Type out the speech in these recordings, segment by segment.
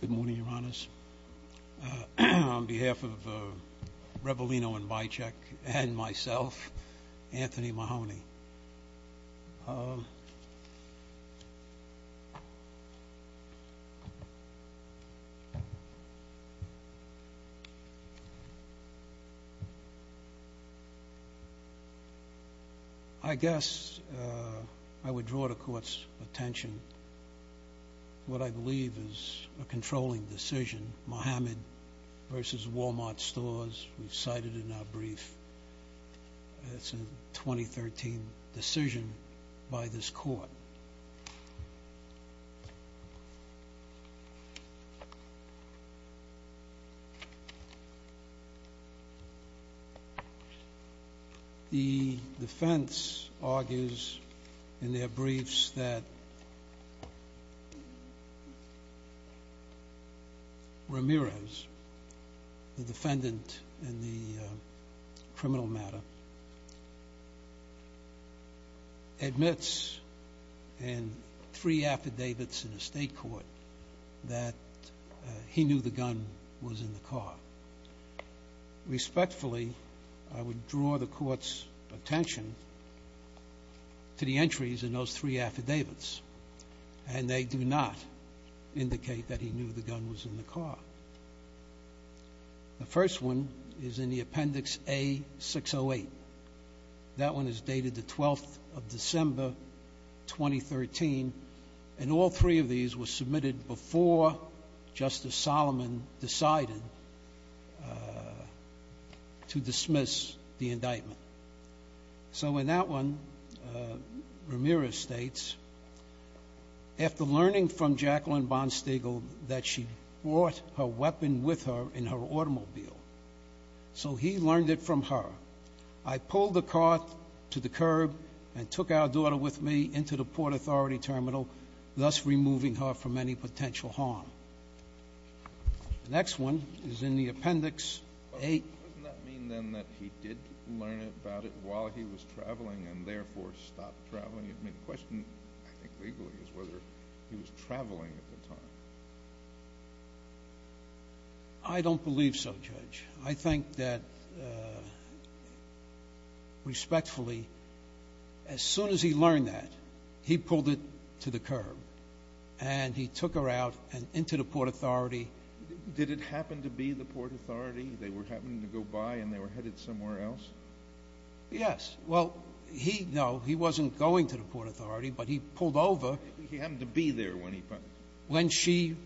Good morning, Your Honors. On behalf of Revolino and Bicek and myself, Anthony Mahoney, I guess I would draw the Court's attention to what I believe is a controlling decision, Mohammed v. Wal-Mart Stores, we've cited in our brief. It's a 2013 decision by this Court. The defense argues in their briefs that Ramirez, the defendant in the criminal matter, admits in three affidavits in the State Court that he knew the gun was in the car. Respectfully, I would draw the Court's attention to the entries in those three affidavits, and they do not indicate that he knew the gun was in the car. The first one is in the Appendix A-608. That one is dated the 12th of December, 2013, and all three of these were submitted before Justice Solomon decided to dismiss the indictment. So in that one, Ramirez states, The next one is in the Appendix A-608. The question, I think, legally, is whether he was traveling at the time. I don't believe so, Judge. I think that, respectfully, as soon as he learned that, he pulled it to the curb, and he took her out and into the Port Authority. Did it happen to be the Port Authority? They were happening to go by, and they were headed somewhere else? Yes. Well, he, no, he wasn't going to the Port Authority, but he pulled over. He happened to be there when he... When she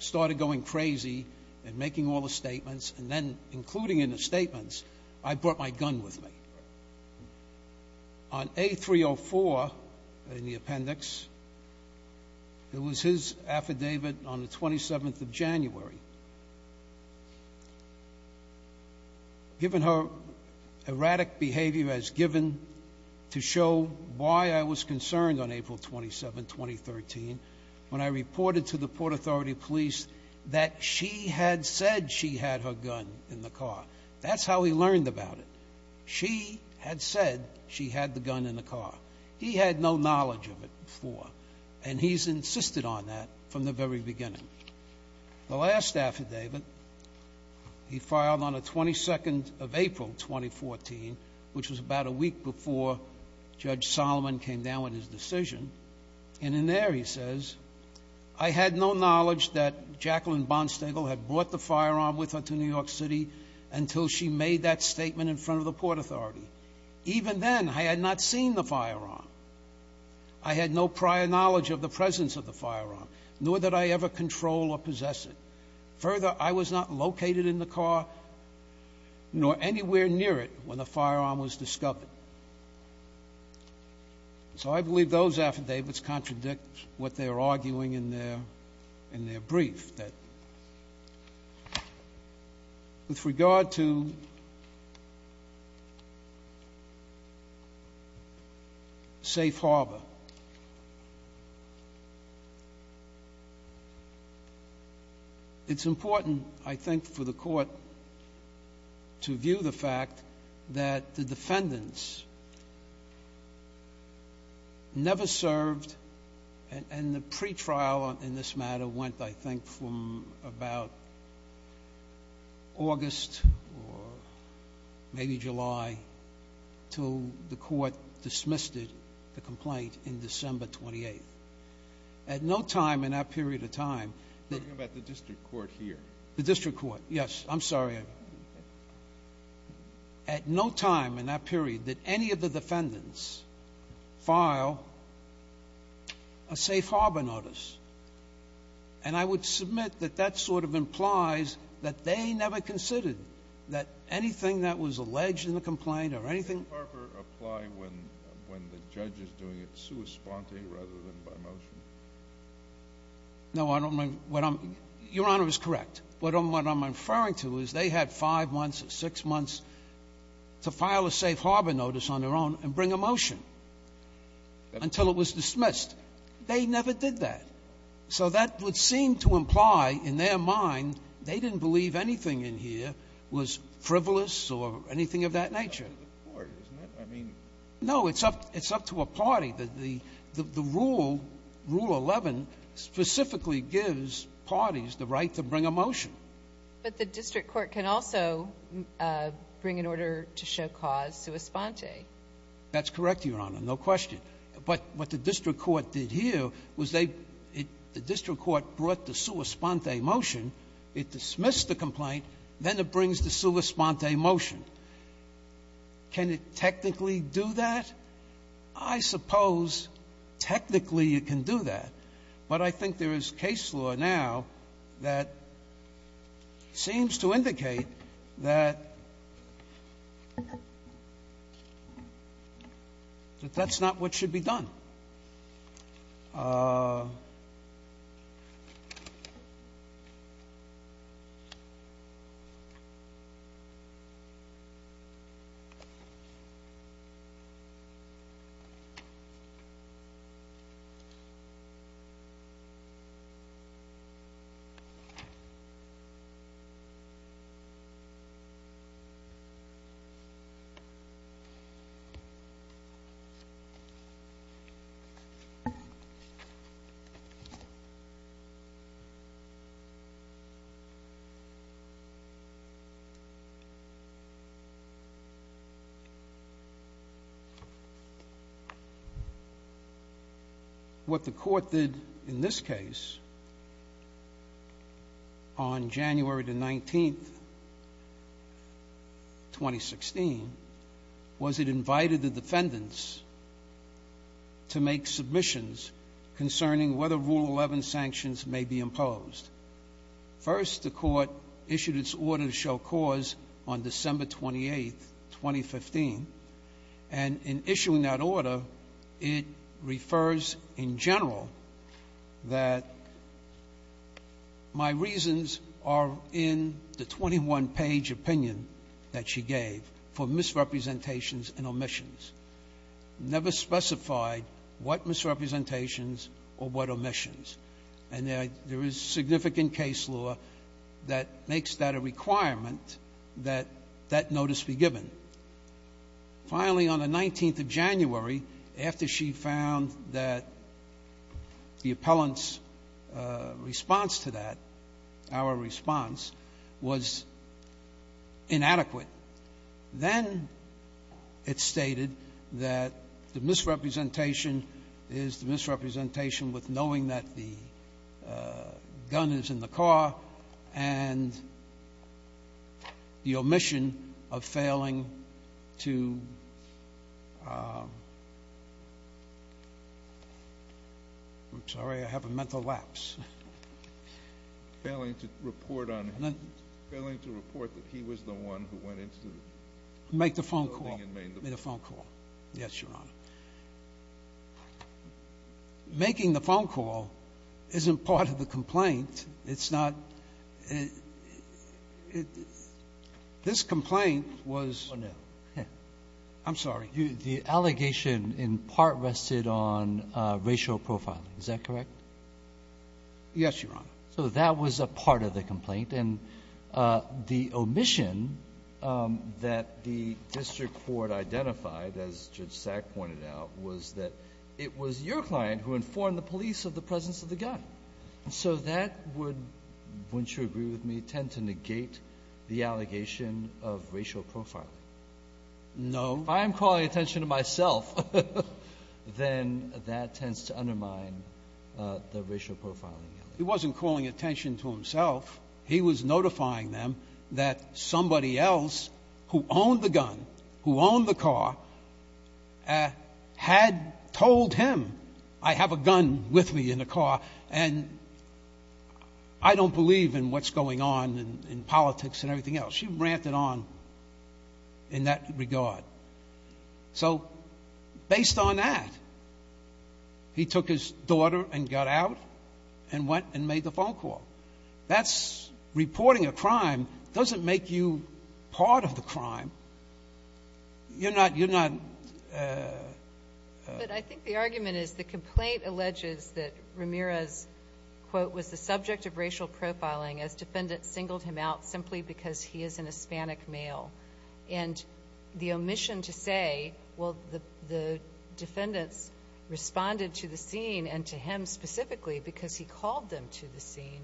started going crazy and making all the statements, and then including in the statements, I brought my gun with me. on A-304 in the Appendix. It was his affidavit on the 27th of January. Given her erratic behavior as given to show why I was concerned on April 27, 2013, when I reported to the Port Authority police that she had said she had her gun in the car. That's how he learned about it. She had said she had the gun in the car. He had no knowledge of it before, and he's insisted on that from the very beginning. The last affidavit he filed on the 22nd of April, 2014, which was about a week before Judge Solomon came down with his decision. And in there he says, I had no knowledge that Jacqueline Bonstagle had brought the firearm with her to New York City until she made that statement in front of the Port Authority. Even then, I had not seen the firearm. I had no prior knowledge of the presence of the firearm, nor did I ever control or possess it. Further, I was not located in the car, nor anywhere near it, when the firearm was discovered. So I believe those affidavits contradict what they are arguing in their brief. With regard to Safe Harbor, it's important, I think, for the court to view the fact that the defendants never served, and the pretrial in this matter went, I think, from about August or maybe July until the court dismissed it, the complaint, in December 28th. At no time in that period of time... You're talking about the district court here. The district court, yes. I'm sorry. At no time in that period did any of the defendants file a Safe Harbor notice. And I would submit that that sort of implies that they never considered that anything that was alleged in the complaint or anything... Does Safe Harbor apply when the judge is doing it sua sponte rather than by motion? No, Your Honor is correct. What I'm referring to is they had five months or six months to file a Safe Harbor notice on their own and bring a motion until it was dismissed. They never did that. So that would seem to imply, in their mind, they didn't believe anything in here was frivolous or anything of that nature. It's up to the court, isn't it? I mean... Rule 11 specifically gives parties the right to bring a motion. But the district court can also bring an order to show cause sua sponte. That's correct, Your Honor. No question. But what the district court did here was they... The district court brought the sua sponte motion. It dismissed the complaint. Then it brings the sua sponte motion. Can it technically do that? I suppose technically it can do that. But I think there is case law now that seems to indicate that that's not what should be done. What the court did in this case on January the 19th, 2016, was it invited the defendants to make submissions concerning whether Rule 11 sanctions may be imposed. First, the court issued its order to show cause on December 28th, 2015. And in issuing that order, it refers, in general, that my reasons are in the 21-page opinion that she gave for misrepresentations and omissions. Never specified what misrepresentations or what omissions. And there is significant case law that makes that a requirement that that notice be given. Finally, on the 19th of January, after she found that the appellant's response to that, our response, was inadequate, then it stated that the misrepresentation is the misrepresentation with knowing that the gun is in the car and the omission of failing to — I'm sorry, I have a mental lapse. Failing to report on him. Failing to report that he was the one who went into the building and made the phone call. Yes, Your Honor. Making the phone call isn't part of the complaint. It's not. This complaint was — Oh, no. I'm sorry. The allegation in part rested on racial profiling. Is that correct? Yes, Your Honor. So that was a part of the complaint. And the omission that the district court identified, as Judge Sack pointed out, was that it was your client who informed the police of the presence of the gun. So that would, wouldn't you agree with me, tend to negate the allegation of racial profiling? No. If I'm calling attention to myself, then that tends to undermine the racial profiling. He wasn't calling attention to himself. He was notifying them that somebody else who owned the gun, who owned the car, had told him, I have a gun with me in the car, and I don't believe in what's going on in politics and everything else. She ranted on in that regard. So based on that, he took his daughter and got out and went and made the phone call. That's — reporting a crime doesn't make you part of the crime. You're not — But I think the argument is the complaint alleges that Ramirez, quote, was the subject of racial profiling as defendants singled him out simply because he is an Hispanic male. And the omission to say, well, the defendants responded to the scene and to him specifically because he called them to the scene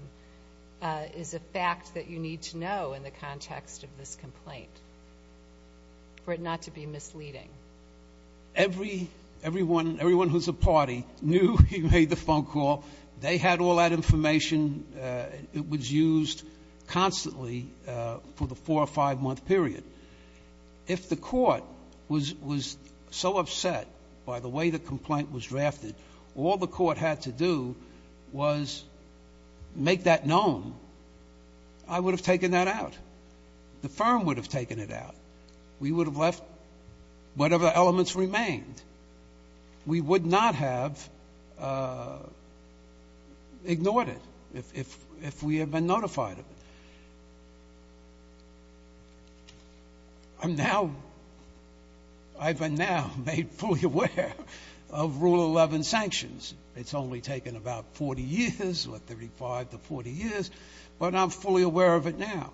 is a fact that you need to know in the context of this complaint for it not to be misleading. Everyone who's a party knew he made the phone call. They had all that information. It was used constantly for the four- or five-month period. If the court was so upset by the way the complaint was drafted, all the court had to do was make that known. I would have taken that out. The firm would have taken it out. We would have left whatever elements remained. We would not have ignored it if we had been notified of it. I'm now — I've been now made fully aware of Rule 11 sanctions. It's only taken about 40 years or 35 to 40 years, but I'm fully aware of it now.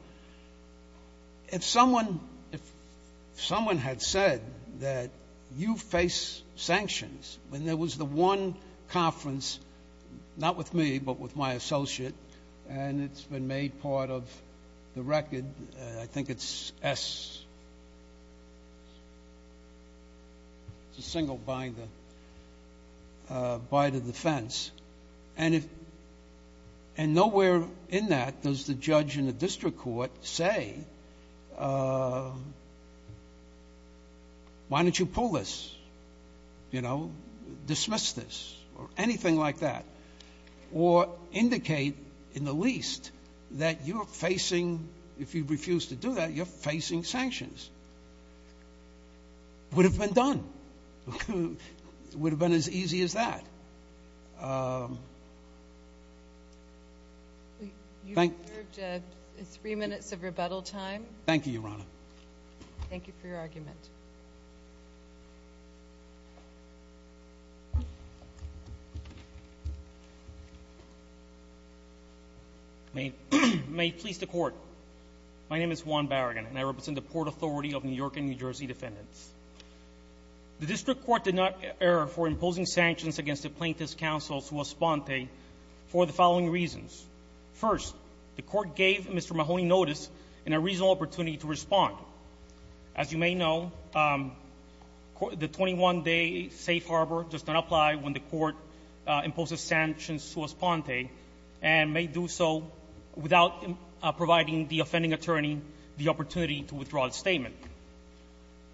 If someone had said that you face sanctions, when there was the one conference, not with me, but with my associate, and it's been made part of the record, I think it's S. It's a single binder by the defense. And nowhere in that does the judge in the district court say, why don't you pull this, you know, dismiss this, or anything like that, or indicate in the least that you're facing — if you refuse to do that, you're facing sanctions. Would have been done. Would have been as easy as that. You've served three minutes of rebuttal time. Thank you, Your Honor. Thank you for your argument. May it please the Court. My name is Juan Barragan, and I represent the Port Authority of New York and New Jersey defendants. The district court did not err for imposing sanctions against the plaintiff's counsel, Sua Sponte, for the following reasons. First, the court gave Mr. Mahoney notice and a reasonable opportunity to respond. As you may know, the 21-day safe harbor does not apply when the court imposes sanctions on Sua Sponte and may do so without providing the offending attorney the opportunity to withdraw the statement.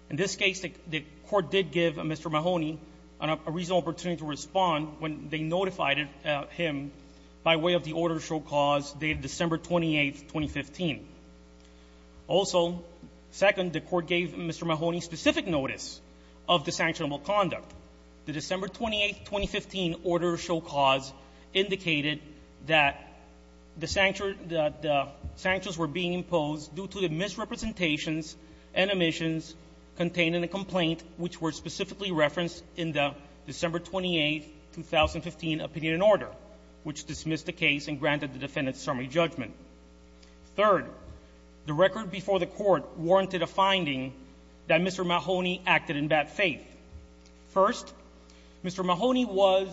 In this case, the court did give Mr. Mahoney a reasonable opportunity to respond when they notified him by way of the order to show cause dated December 28, 2015. Also, second, the court gave Mr. Mahoney specific notice of the sanctionable conduct. The December 28, 2015 order to show cause indicated that the sanctions were being imposed due to the misrepresentations and omissions contained in the complaint, which were specifically referenced in the December 28, 2015 opinion and order, which dismissed the case and granted the defendant's summary judgment. Third, the record before the court warranted a finding that Mr. Mahoney acted in bad faith. First, Mr. Mahoney was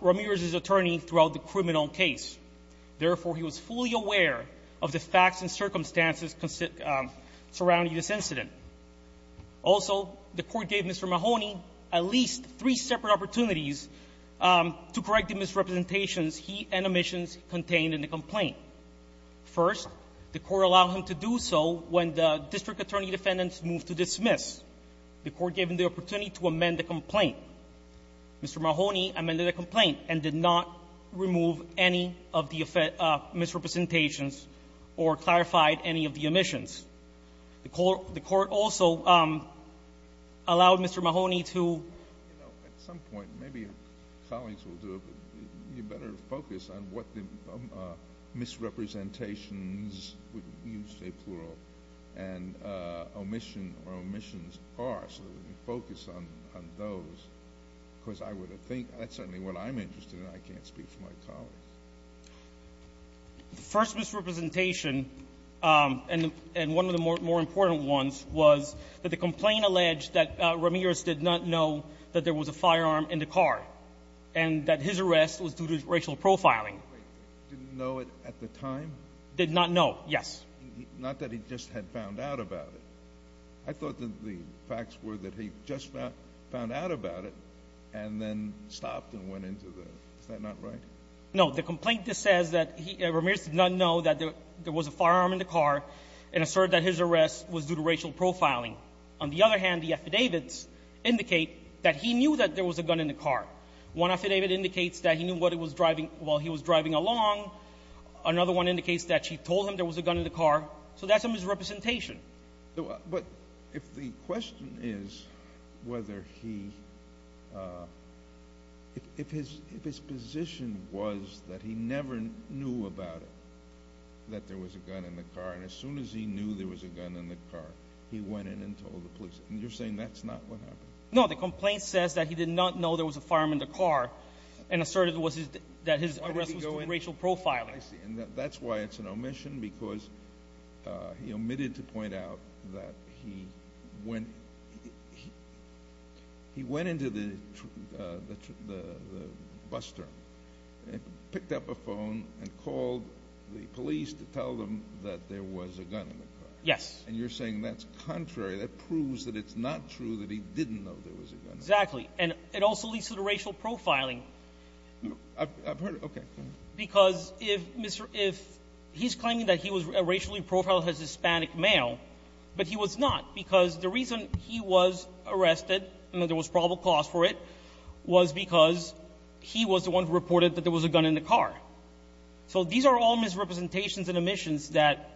Ramirez's attorney throughout the criminal case. Therefore, he was fully aware of the facts and circumstances surrounding this incident. Also, the court gave Mr. Mahoney at least three separate opportunities to correct the misrepresentations he and omissions contained in the complaint. First, the court allowed him to do so when the district attorney defendants moved to dismiss. The court gave him the opportunity to amend the complaint. Mr. Mahoney amended the complaint and did not remove any of the misrepresentations or clarified any of the omissions. The court also allowed Mr. Mahoney to do so. At some point, maybe colleagues will do it, but you better focus on what the misrepresentations, you say plural, and omission or omissions are, so that we can focus on those, because I would think that's certainly what I'm interested in. I can't speak for my colleagues. The first misrepresentation and one of the more important ones was that the complaint alleged that Ramirez did not know that there was a firearm in the car and that his arrest was due to racial profiling. Didn't know it at the time? Did not know. Yes. Not that he just had found out about it. I thought that the facts were that he just found out about it and then stopped and went into the room. Is that not right? No. The complaint just says that Ramirez did not know that there was a firearm in the car and asserted that his arrest was due to racial profiling. On the other hand, the affidavits indicate that he knew that there was a gun in the car. One affidavit indicates that he knew what it was driving while he was driving along. Another one indicates that she told him there was a gun in the car. So that's a misrepresentation. But if the question is whether he, if his position was that he never knew about it, that there was a gun in the car, and as soon as he knew there was a gun in the car, he went in and told the police. You're saying that's not what happened? No. The complaint says that he did not know there was a firearm in the car and asserted that his arrest was due to racial profiling. I see. And that's why it's an omission because he omitted to point out that he went into the bus term and picked up a phone and called the police to tell them that there was a gun in the car. Yes. And you're saying that's contrary. That proves that it's not true that he didn't know there was a gun in the car. Exactly. And it also leads to the racial profiling. I've heard it. Okay. Because if he's claiming that he was racially profiled as Hispanic male, but he was not because the reason he was arrested and that there was probable cause for it was because he was the one who reported that there was a gun in the car. So these are all misrepresentations and omissions that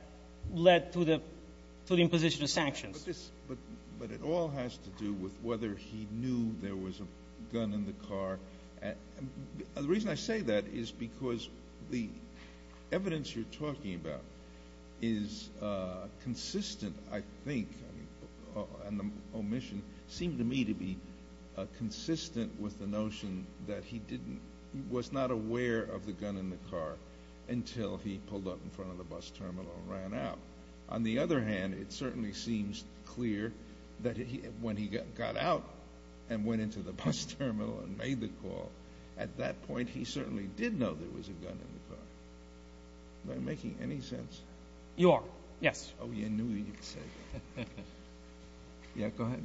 led to the imposition of sanctions. But it all has to do with whether he knew there was a gun in the car. The reason I say that is because the evidence you're talking about is consistent, I think, and the omission seemed to me to be consistent with the notion that he was not aware of the gun in the car until he pulled up in front of the bus terminal and ran out. On the other hand, it certainly seems clear that when he got out and went into the bus terminal and made the call, at that point he certainly did know there was a gun in the car. Am I making any sense? You are. Yes. Oh, I knew you'd say that. Yeah, go ahead.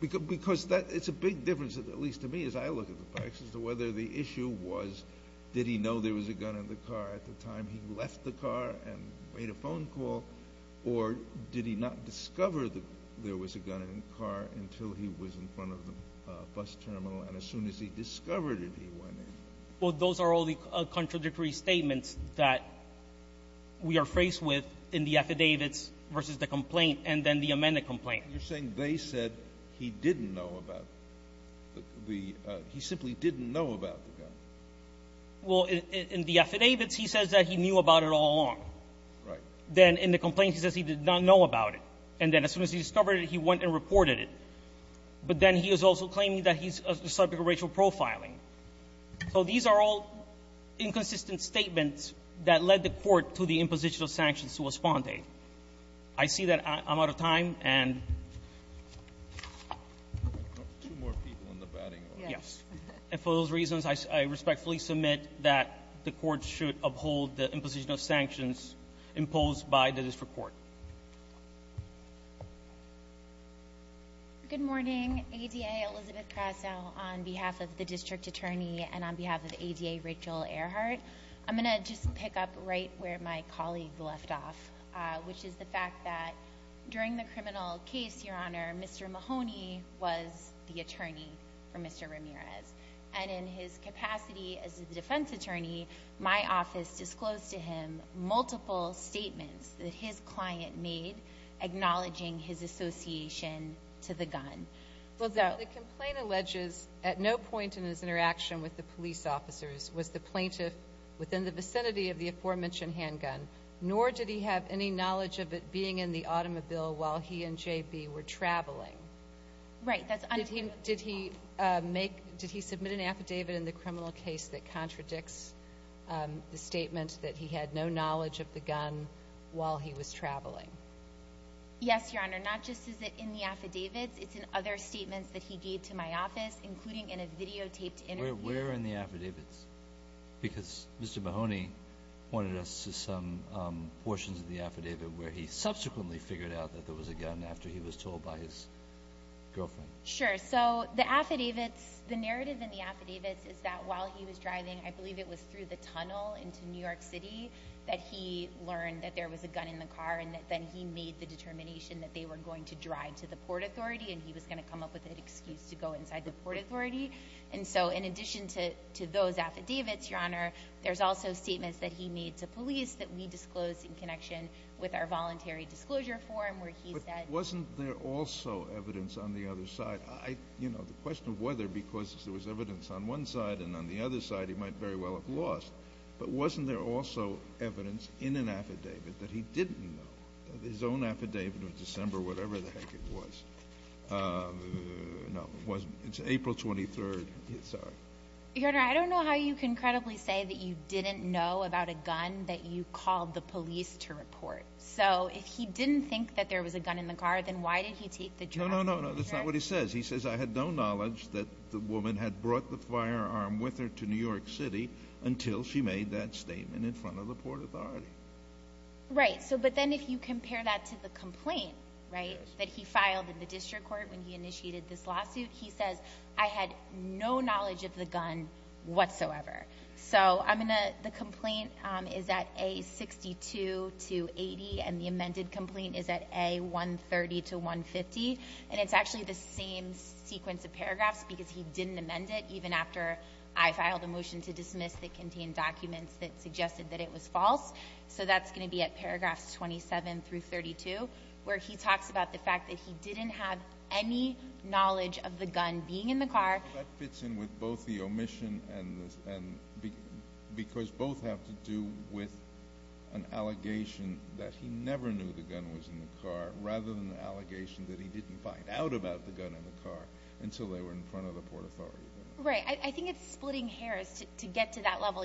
Because it's a big difference, at least to me as I look at the facts, as to whether the issue was did he know there was a gun in the car at the time he left the car and made a phone call, or did he not discover that there was a gun in the car until he was in front of the bus terminal, and as soon as he discovered it, he went in? Well, those are all the contradictory statements that we are faced with in the affidavits versus the complaint and then the amended complaint. You're saying they said he didn't know about the – he simply didn't know about the gun. Well, in the affidavits, he says that he knew about it all along. Right. Then in the complaint, he says he did not know about it. And then as soon as he discovered it, he went and reported it. But then he is also claiming that he's a subject of racial profiling. So these are all inconsistent statements that led the Court to the imposition of sanctions to Ospante. I see that I'm out of time, and – Two more people in the batting. And for those reasons, I respectfully submit that the Court should uphold the imposition of sanctions imposed by the District Court. Good morning. ADA Elizabeth Crasow on behalf of the District Attorney and on behalf of ADA Rachel Earhart. I'm going to just pick up right where my colleague left off, which is the fact that during the criminal case, Your Honor, Mr. Mahoney was the attorney for Mr. Ramirez. And in his capacity as a defense attorney, my office disclosed to him multiple statements that his client made acknowledging his association to the gun. Well, the complaint alleges at no point in his interaction with the police officers was the plaintiff within the vicinity of the aforementioned handgun, nor did he have any knowledge of it being in the automobile while he and J.B. were traveling. Right. Did he make – did he submit an affidavit in the criminal case that contradicts the statement that he had no knowledge of the gun while he was traveling? Yes, Your Honor. Not just is it in the affidavits, it's in other statements that he gave to my office, including in a videotaped interview. Where in the affidavits? Because Mr. Mahoney pointed us to some portions of the affidavit where he subsequently figured out that there was a gun after he was told by his girlfriend. Sure. So the affidavits – the narrative in the affidavits is that while he was driving, I believe it was through the tunnel into New York City, that he learned that there was a gun in the car and that then he made the determination that they were going to drive to the Port Authority and he was going to come up with an excuse to go inside the Port Authority. And so in addition to those affidavits, Your Honor, there's also statements that he made to police that we disclosed in connection with our voluntary disclosure form where he said – But wasn't there also evidence on the other side? You know, the question of whether because there was evidence on one side and on the other side, he might very well have lost. But wasn't there also evidence in an affidavit that he didn't know? His own affidavit of December, whatever the heck it was. No, it wasn't. It's April 23rd. Sorry. Your Honor, I don't know how you can credibly say that you didn't know about a gun that you called the police to report. So if he didn't think that there was a gun in the car, then why did he take the job? No, no, no. That's not what he says. He says, I had no knowledge that the woman had brought the firearm with her to New York City until she made that statement in front of the Port Authority. Right. So but then if you compare that to the complaint, right, that he filed in the district court when he initiated this lawsuit, he says, I had no knowledge of the gun whatsoever. So the complaint is at A62 to 80, and the amended complaint is at A130 to 150. And it's actually the same sequence of paragraphs because he didn't amend it even after I filed a motion to dismiss that contained documents that suggested that it was false. So that's going to be at paragraphs 27 through 32, where he talks about the fact that he didn't have any knowledge of the gun being in the car. That fits in with both the omission and because both have to do with an allegation that he never knew the gun was in the car rather than the allegation that he didn't find out about the gun in the car until they were in front of the Port Authority. Right. I think it's splitting hairs to get to that level.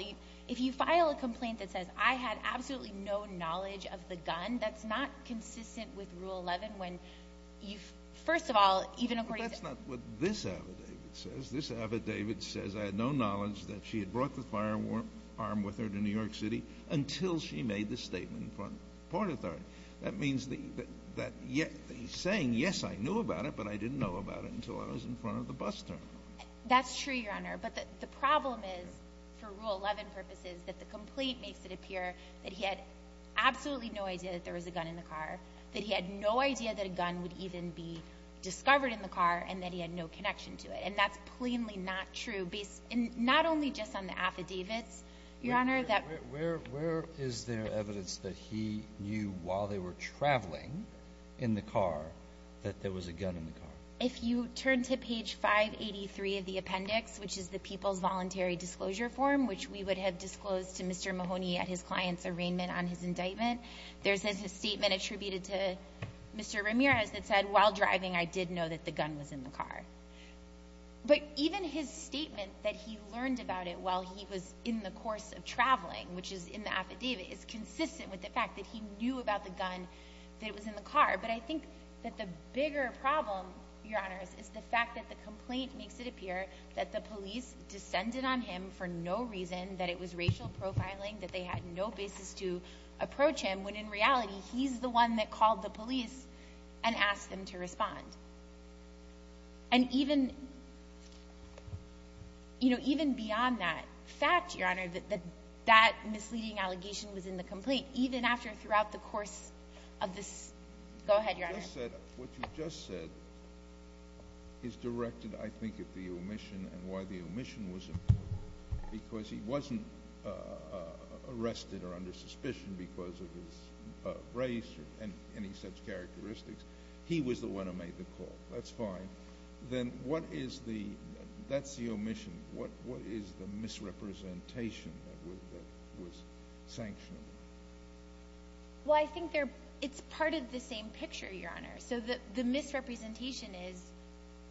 If you file a complaint that says, I had absolutely no knowledge of the gun, that's not consistent with Rule 11 when you, first of all, even agree to... But that's not what this affidavit says. This affidavit says, I had no knowledge that she had brought the firearm with her to New York City until she made the statement in front of the Port Authority. That means that he's saying, yes, I knew about it, but I didn't know about it until I was in front of the bus terminal. That's true, Your Honor. But the problem is, for Rule 11 purposes, that the complaint makes it appear that he had no idea that a gun would even be discovered in the car and that he had no connection to it. And that's plainly not true, not only just on the affidavits, Your Honor, that... Where is there evidence that he knew while they were traveling in the car that there was a gun in the car? If you turn to page 583 of the appendix, which is the People's Voluntary Disclosure Form, which we would have disclosed to Mr. Mahoney at his client's arraignment on his indictment, there's this statement attributed to Mr. Ramirez that said, while driving I did know that the gun was in the car. But even his statement that he learned about it while he was in the course of traveling, which is in the affidavit, is consistent with the fact that he knew about the gun that was in the car. But I think that the bigger problem, Your Honor, is the fact that the complaint makes it appear that the police descended on him for no reason, that it was racial profiling, that they had no basis to approach him, when in reality he's the one that called the police and asked them to respond. And even... You know, even beyond that fact, Your Honor, that that misleading allegation was in the complaint, even after throughout the course of this... Go ahead, Your Honor. What you just said is directed, I think, at the omission and why the omission was important. Because he wasn't arrested or under suspicion because of his race or any such characteristics. He was the one who made the call. That's fine. Then what is the... That's the omission. What is the misrepresentation that was sanctioned? Well, I think it's part of the same picture, Your Honor. So the misrepresentation is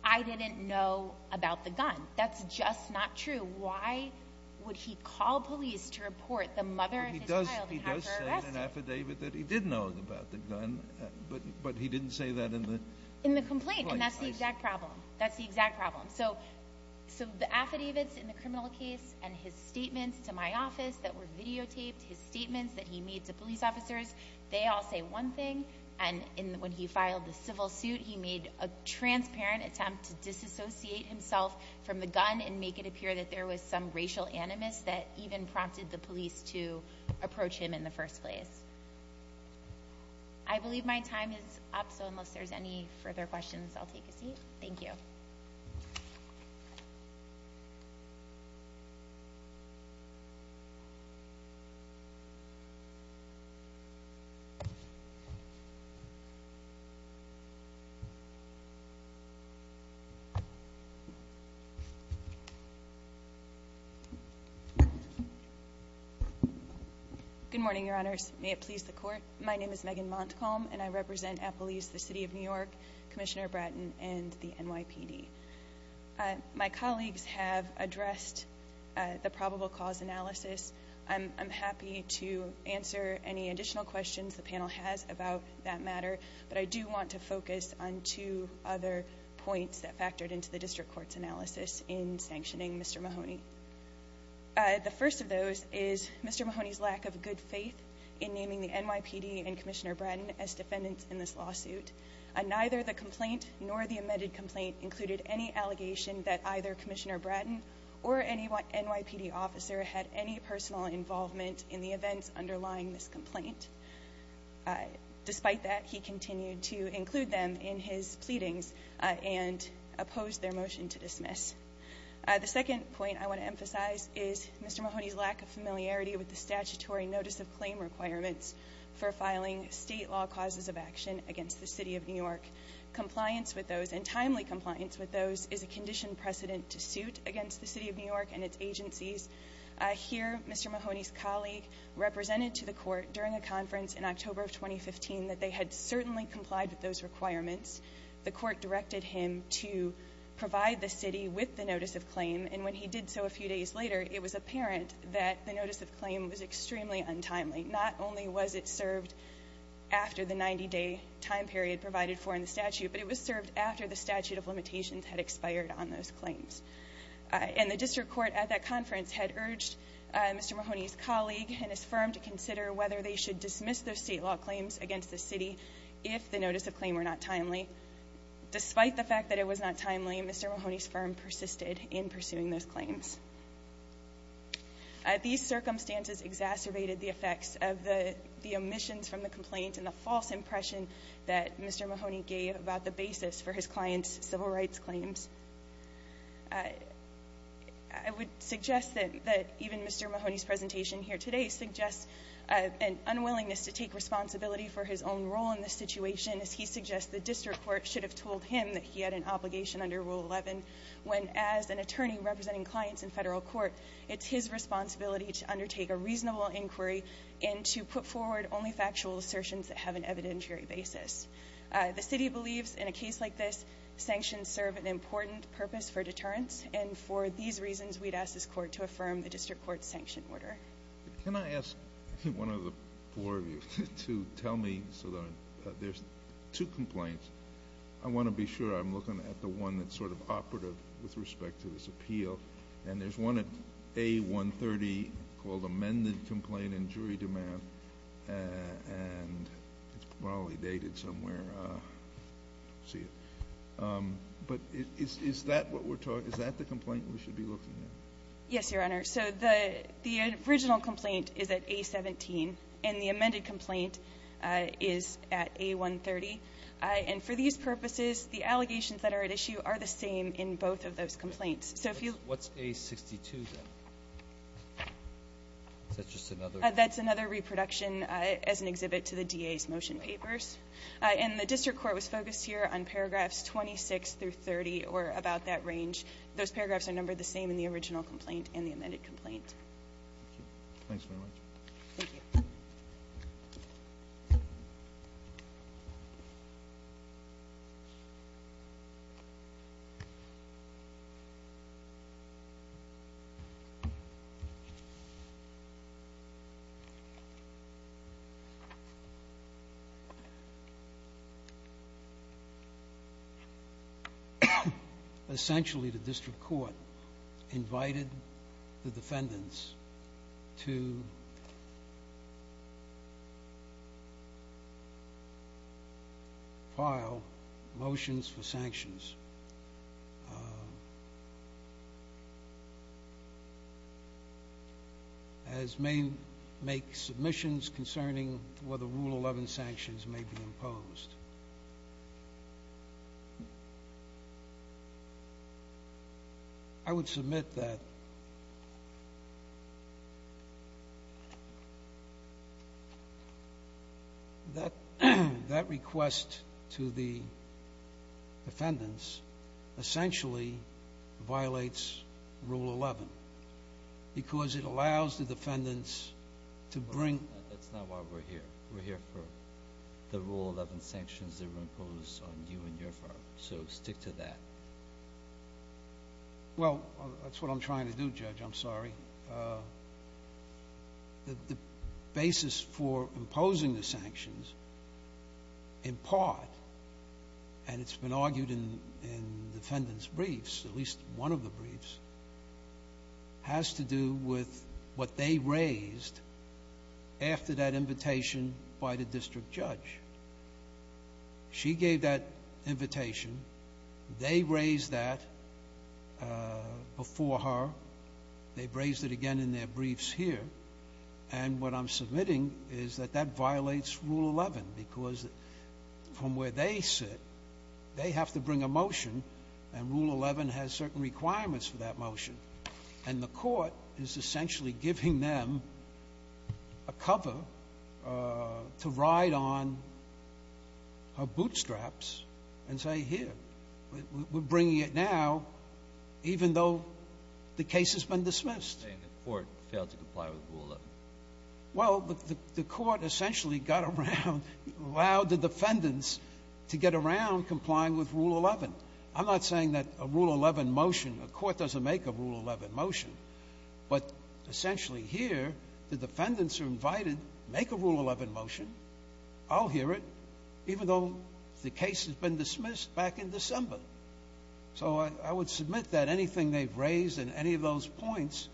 I didn't know about the gun. That's just not true. So why would he call police to report the mother of his child and have her arrested? He does say in an affidavit that he did know about the gun, but he didn't say that in the... In the complaint, and that's the exact problem. That's the exact problem. So the affidavits in the criminal case and his statements to my office that were videotaped, his statements that he made to police officers, they all say one thing. And when he filed the civil suit, he made a transparent attempt to disassociate himself from the gun and make it appear that there was some racial animus that even prompted the police to approach him in the first place. I believe my time is up, so unless there's any further questions, I'll take a seat. Thank you. Good morning, Your Honors. May it please the Court. My name is Megan Montcalm, and I represent Appalese, the City of New York, Commissioner Bratton, and the NYPD. My colleagues have addressed the probable cause analysis. I'm happy to answer any additional questions the panel has about that matter, but I do want to focus on two other points that factored into the district court's analysis in sanctioning Mr. Mahoney. The first of those is Mr. Mahoney's lack of good faith in naming the NYPD and Commissioner Bratton as defendants in this lawsuit. Neither the complaint nor the amended complaint included any allegation that either Commissioner Bratton or any NYPD officer had any personal involvement in the events underlying this complaint. Despite that, he continued to include them in his pleadings and opposed their motion to dismiss. The second point I want to emphasize is Mr. Mahoney's lack of familiarity with the statutory notice of claim requirements for filing state law causes of action against the City of New York. Compliance with those, and timely compliance with those, is a conditioned precedent to suit against the City of New York and its agencies. I hear Mr. Mahoney's colleague represented to the court during a conference in October of 2015 that they had certainly complied with those requirements. The court directed him to provide the City with the notice of claim, and when he did so a few days later, it was apparent that the notice of claim was extremely untimely. Not only was it served after the 90-day time period provided for in the statute, but it was served after the statute of limitations had expired on those claims. And the district court at that conference had urged Mr. Mahoney's colleague and his firm to consider whether they should dismiss those state law claims against the City if the notice of claim were not timely. Despite the fact that it was not timely, Mr. Mahoney's firm persisted in pursuing those claims. These circumstances exacerbated the effects of the omissions from the complaint and the false impression that Mr. Mahoney gave about the basis for his client's civil rights claims. I would suggest that even Mr. Mahoney's presentation here today suggests an unwillingness to take responsibility for his own role in this situation as he suggests the district court should have told him that he had an obligation under Rule 11 when as an attorney representing clients in federal court, it's his responsibility to undertake a reasonable inquiry and to put forward only factual assertions that have an evidentiary basis. The City believes in a case like this, sanctions serve an important purpose for deterrence and for these reasons we'd ask this court to affirm the district court's sanction order. Can I ask one of the four of you to tell me, so there's two complaints. I want to be sure I'm looking at the one that's sort of operative with respect to this appeal. And there's one at A-130 called Amended Complaint in Jury Demand. And it's probably dated somewhere. But is that the complaint we should be looking at? Yes, Your Honor. So the original complaint is at A-17 and the amended complaint is at A-130. And for these purposes, the allegations that are at issue are the same in both of those complaints. What's A-62 then? Is that just another? That's another reproduction as an exhibit to the DA's motion papers. And the district court was focused here on paragraphs 26 through 30 or about that range. Those paragraphs are numbered the same in the original complaint and the amended complaint. Thanks very much. Thank you. Essentially, the district court invited the defendants to file motions for sanctions, as may make submissions concerning whether Rule 11 sanctions may be imposed. I would submit that that request to the defendants essentially violates Rule 11 because it allows the defendants to bring That's not why we're here. We're here for the Rule 11 sanctions that were imposed on you and your firm. So stick to that. Well, that's what I'm trying to do, Judge. I'm sorry. The basis for imposing the sanctions, in part, and it's been argued in defendants' briefs, at least one of the briefs, has to do with what they raised after that invitation by the district judge. She gave that invitation. They raised that before her. They've raised it again in their briefs here. And what I'm submitting is that that violates Rule 11 because from where they sit, they have to bring a motion, and Rule 11 has certain requirements for that motion, and the court is essentially giving them a cover to ride on her bootstraps and say, Here, we're bringing it now, even though the case has been dismissed. And the court failed to comply with Rule 11. Well, the court essentially got around, allowed the defendants to get around complying with Rule 11. I'm not saying that a Rule 11 motion, a court doesn't make a Rule 11 motion, but essentially here, the defendants are invited to make a Rule 11 motion. I'll hear it, even though the case has been dismissed back in December. So I would submit that anything they've raised in any of those points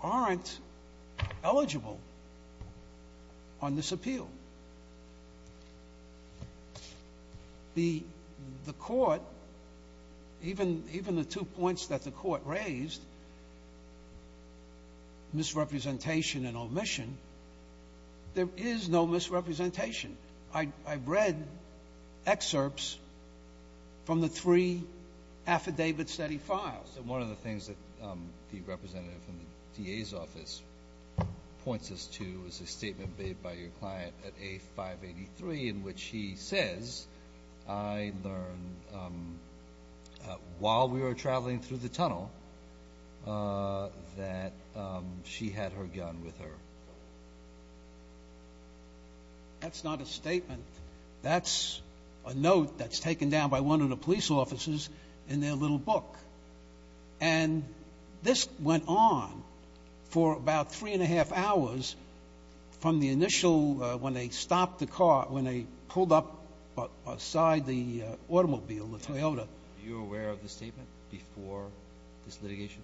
aren't eligible on this appeal. The court, even the two points that the court raised, misrepresentation and omission, there is no misrepresentation. I've read excerpts from the three affidavits that he files. One of the things that the representative from the DA's office points us to is a statement made by your client at A583 in which he says, I learned while we were traveling through the tunnel that she had her gun with her. That's not a statement. That's a note that's taken down by one of the police officers in their little book. And this went on for about three and a half hours from the initial, when they stopped the car, when they pulled up beside the automobile, the Toyota. Were you aware of the statement before this litigation?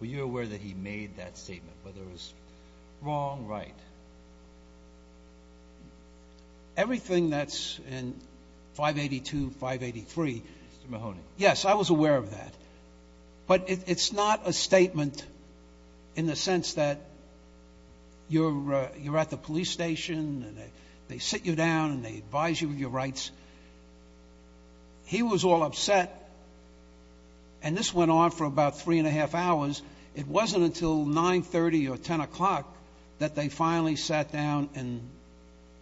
Were you aware that he made that statement, whether it was wrong, right? Everything that's in 582, 583. Mr. Mahoney. Yes, I was aware of that. But it's not a statement in the sense that you're at the police station and they sit you down and they advise you of your rights. He was all upset. And this went on for about three and a half hours. It wasn't until 930 or 10 o'clock that they finally sat down and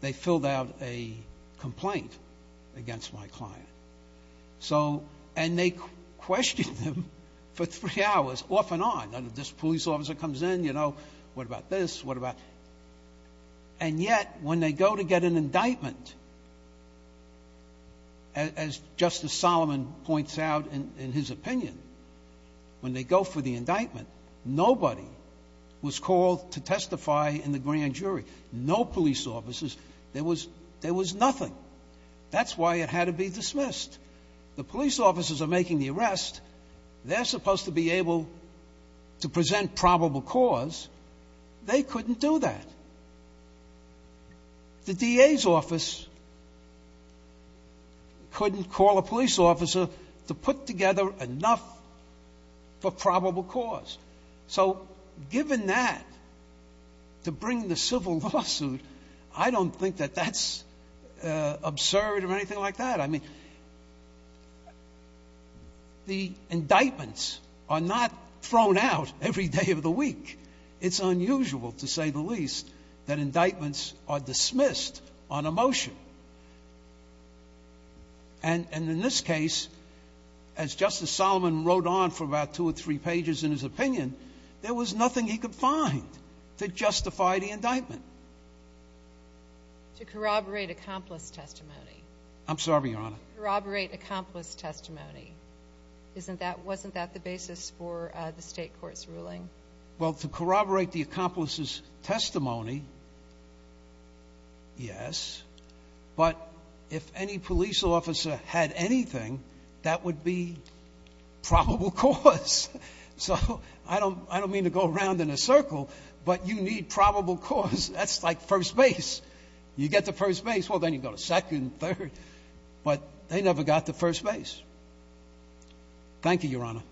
they filled out a complaint against my client. And they questioned him for three hours, off and on. This police officer comes in, you know, what about this, what about. And yet, when they go to get an indictment, as Justice Solomon points out in his opinion, when they go for the indictment, nobody was called to testify in the grand jury. No police officers. There was nothing. That's why it had to be dismissed. The police officers are making the arrest. They're supposed to be able to present probable cause. They couldn't do that. The DA's office couldn't call a police officer to put together enough for probable cause. So given that, to bring the civil lawsuit, I don't think that that's absurd or anything like that. I mean, the indictments are not thrown out every day of the week. It's unusual, to say the least, that indictments are dismissed on a motion. And in this case, as Justice Solomon wrote on for about two or three pages in his opinion, there was nothing he could find to justify the indictment. To corroborate accomplice testimony. I'm sorry, Your Honor. Corroborate accomplice testimony. Wasn't that the basis for the state court's ruling? Well, to corroborate the accomplice's testimony, yes. But if any police officer had anything, that would be probable cause. So I don't mean to go around in a circle, but you need probable cause. That's like first base. You get to first base, well, then you go to second, third. But they never got to first base. Thank you, Your Honor.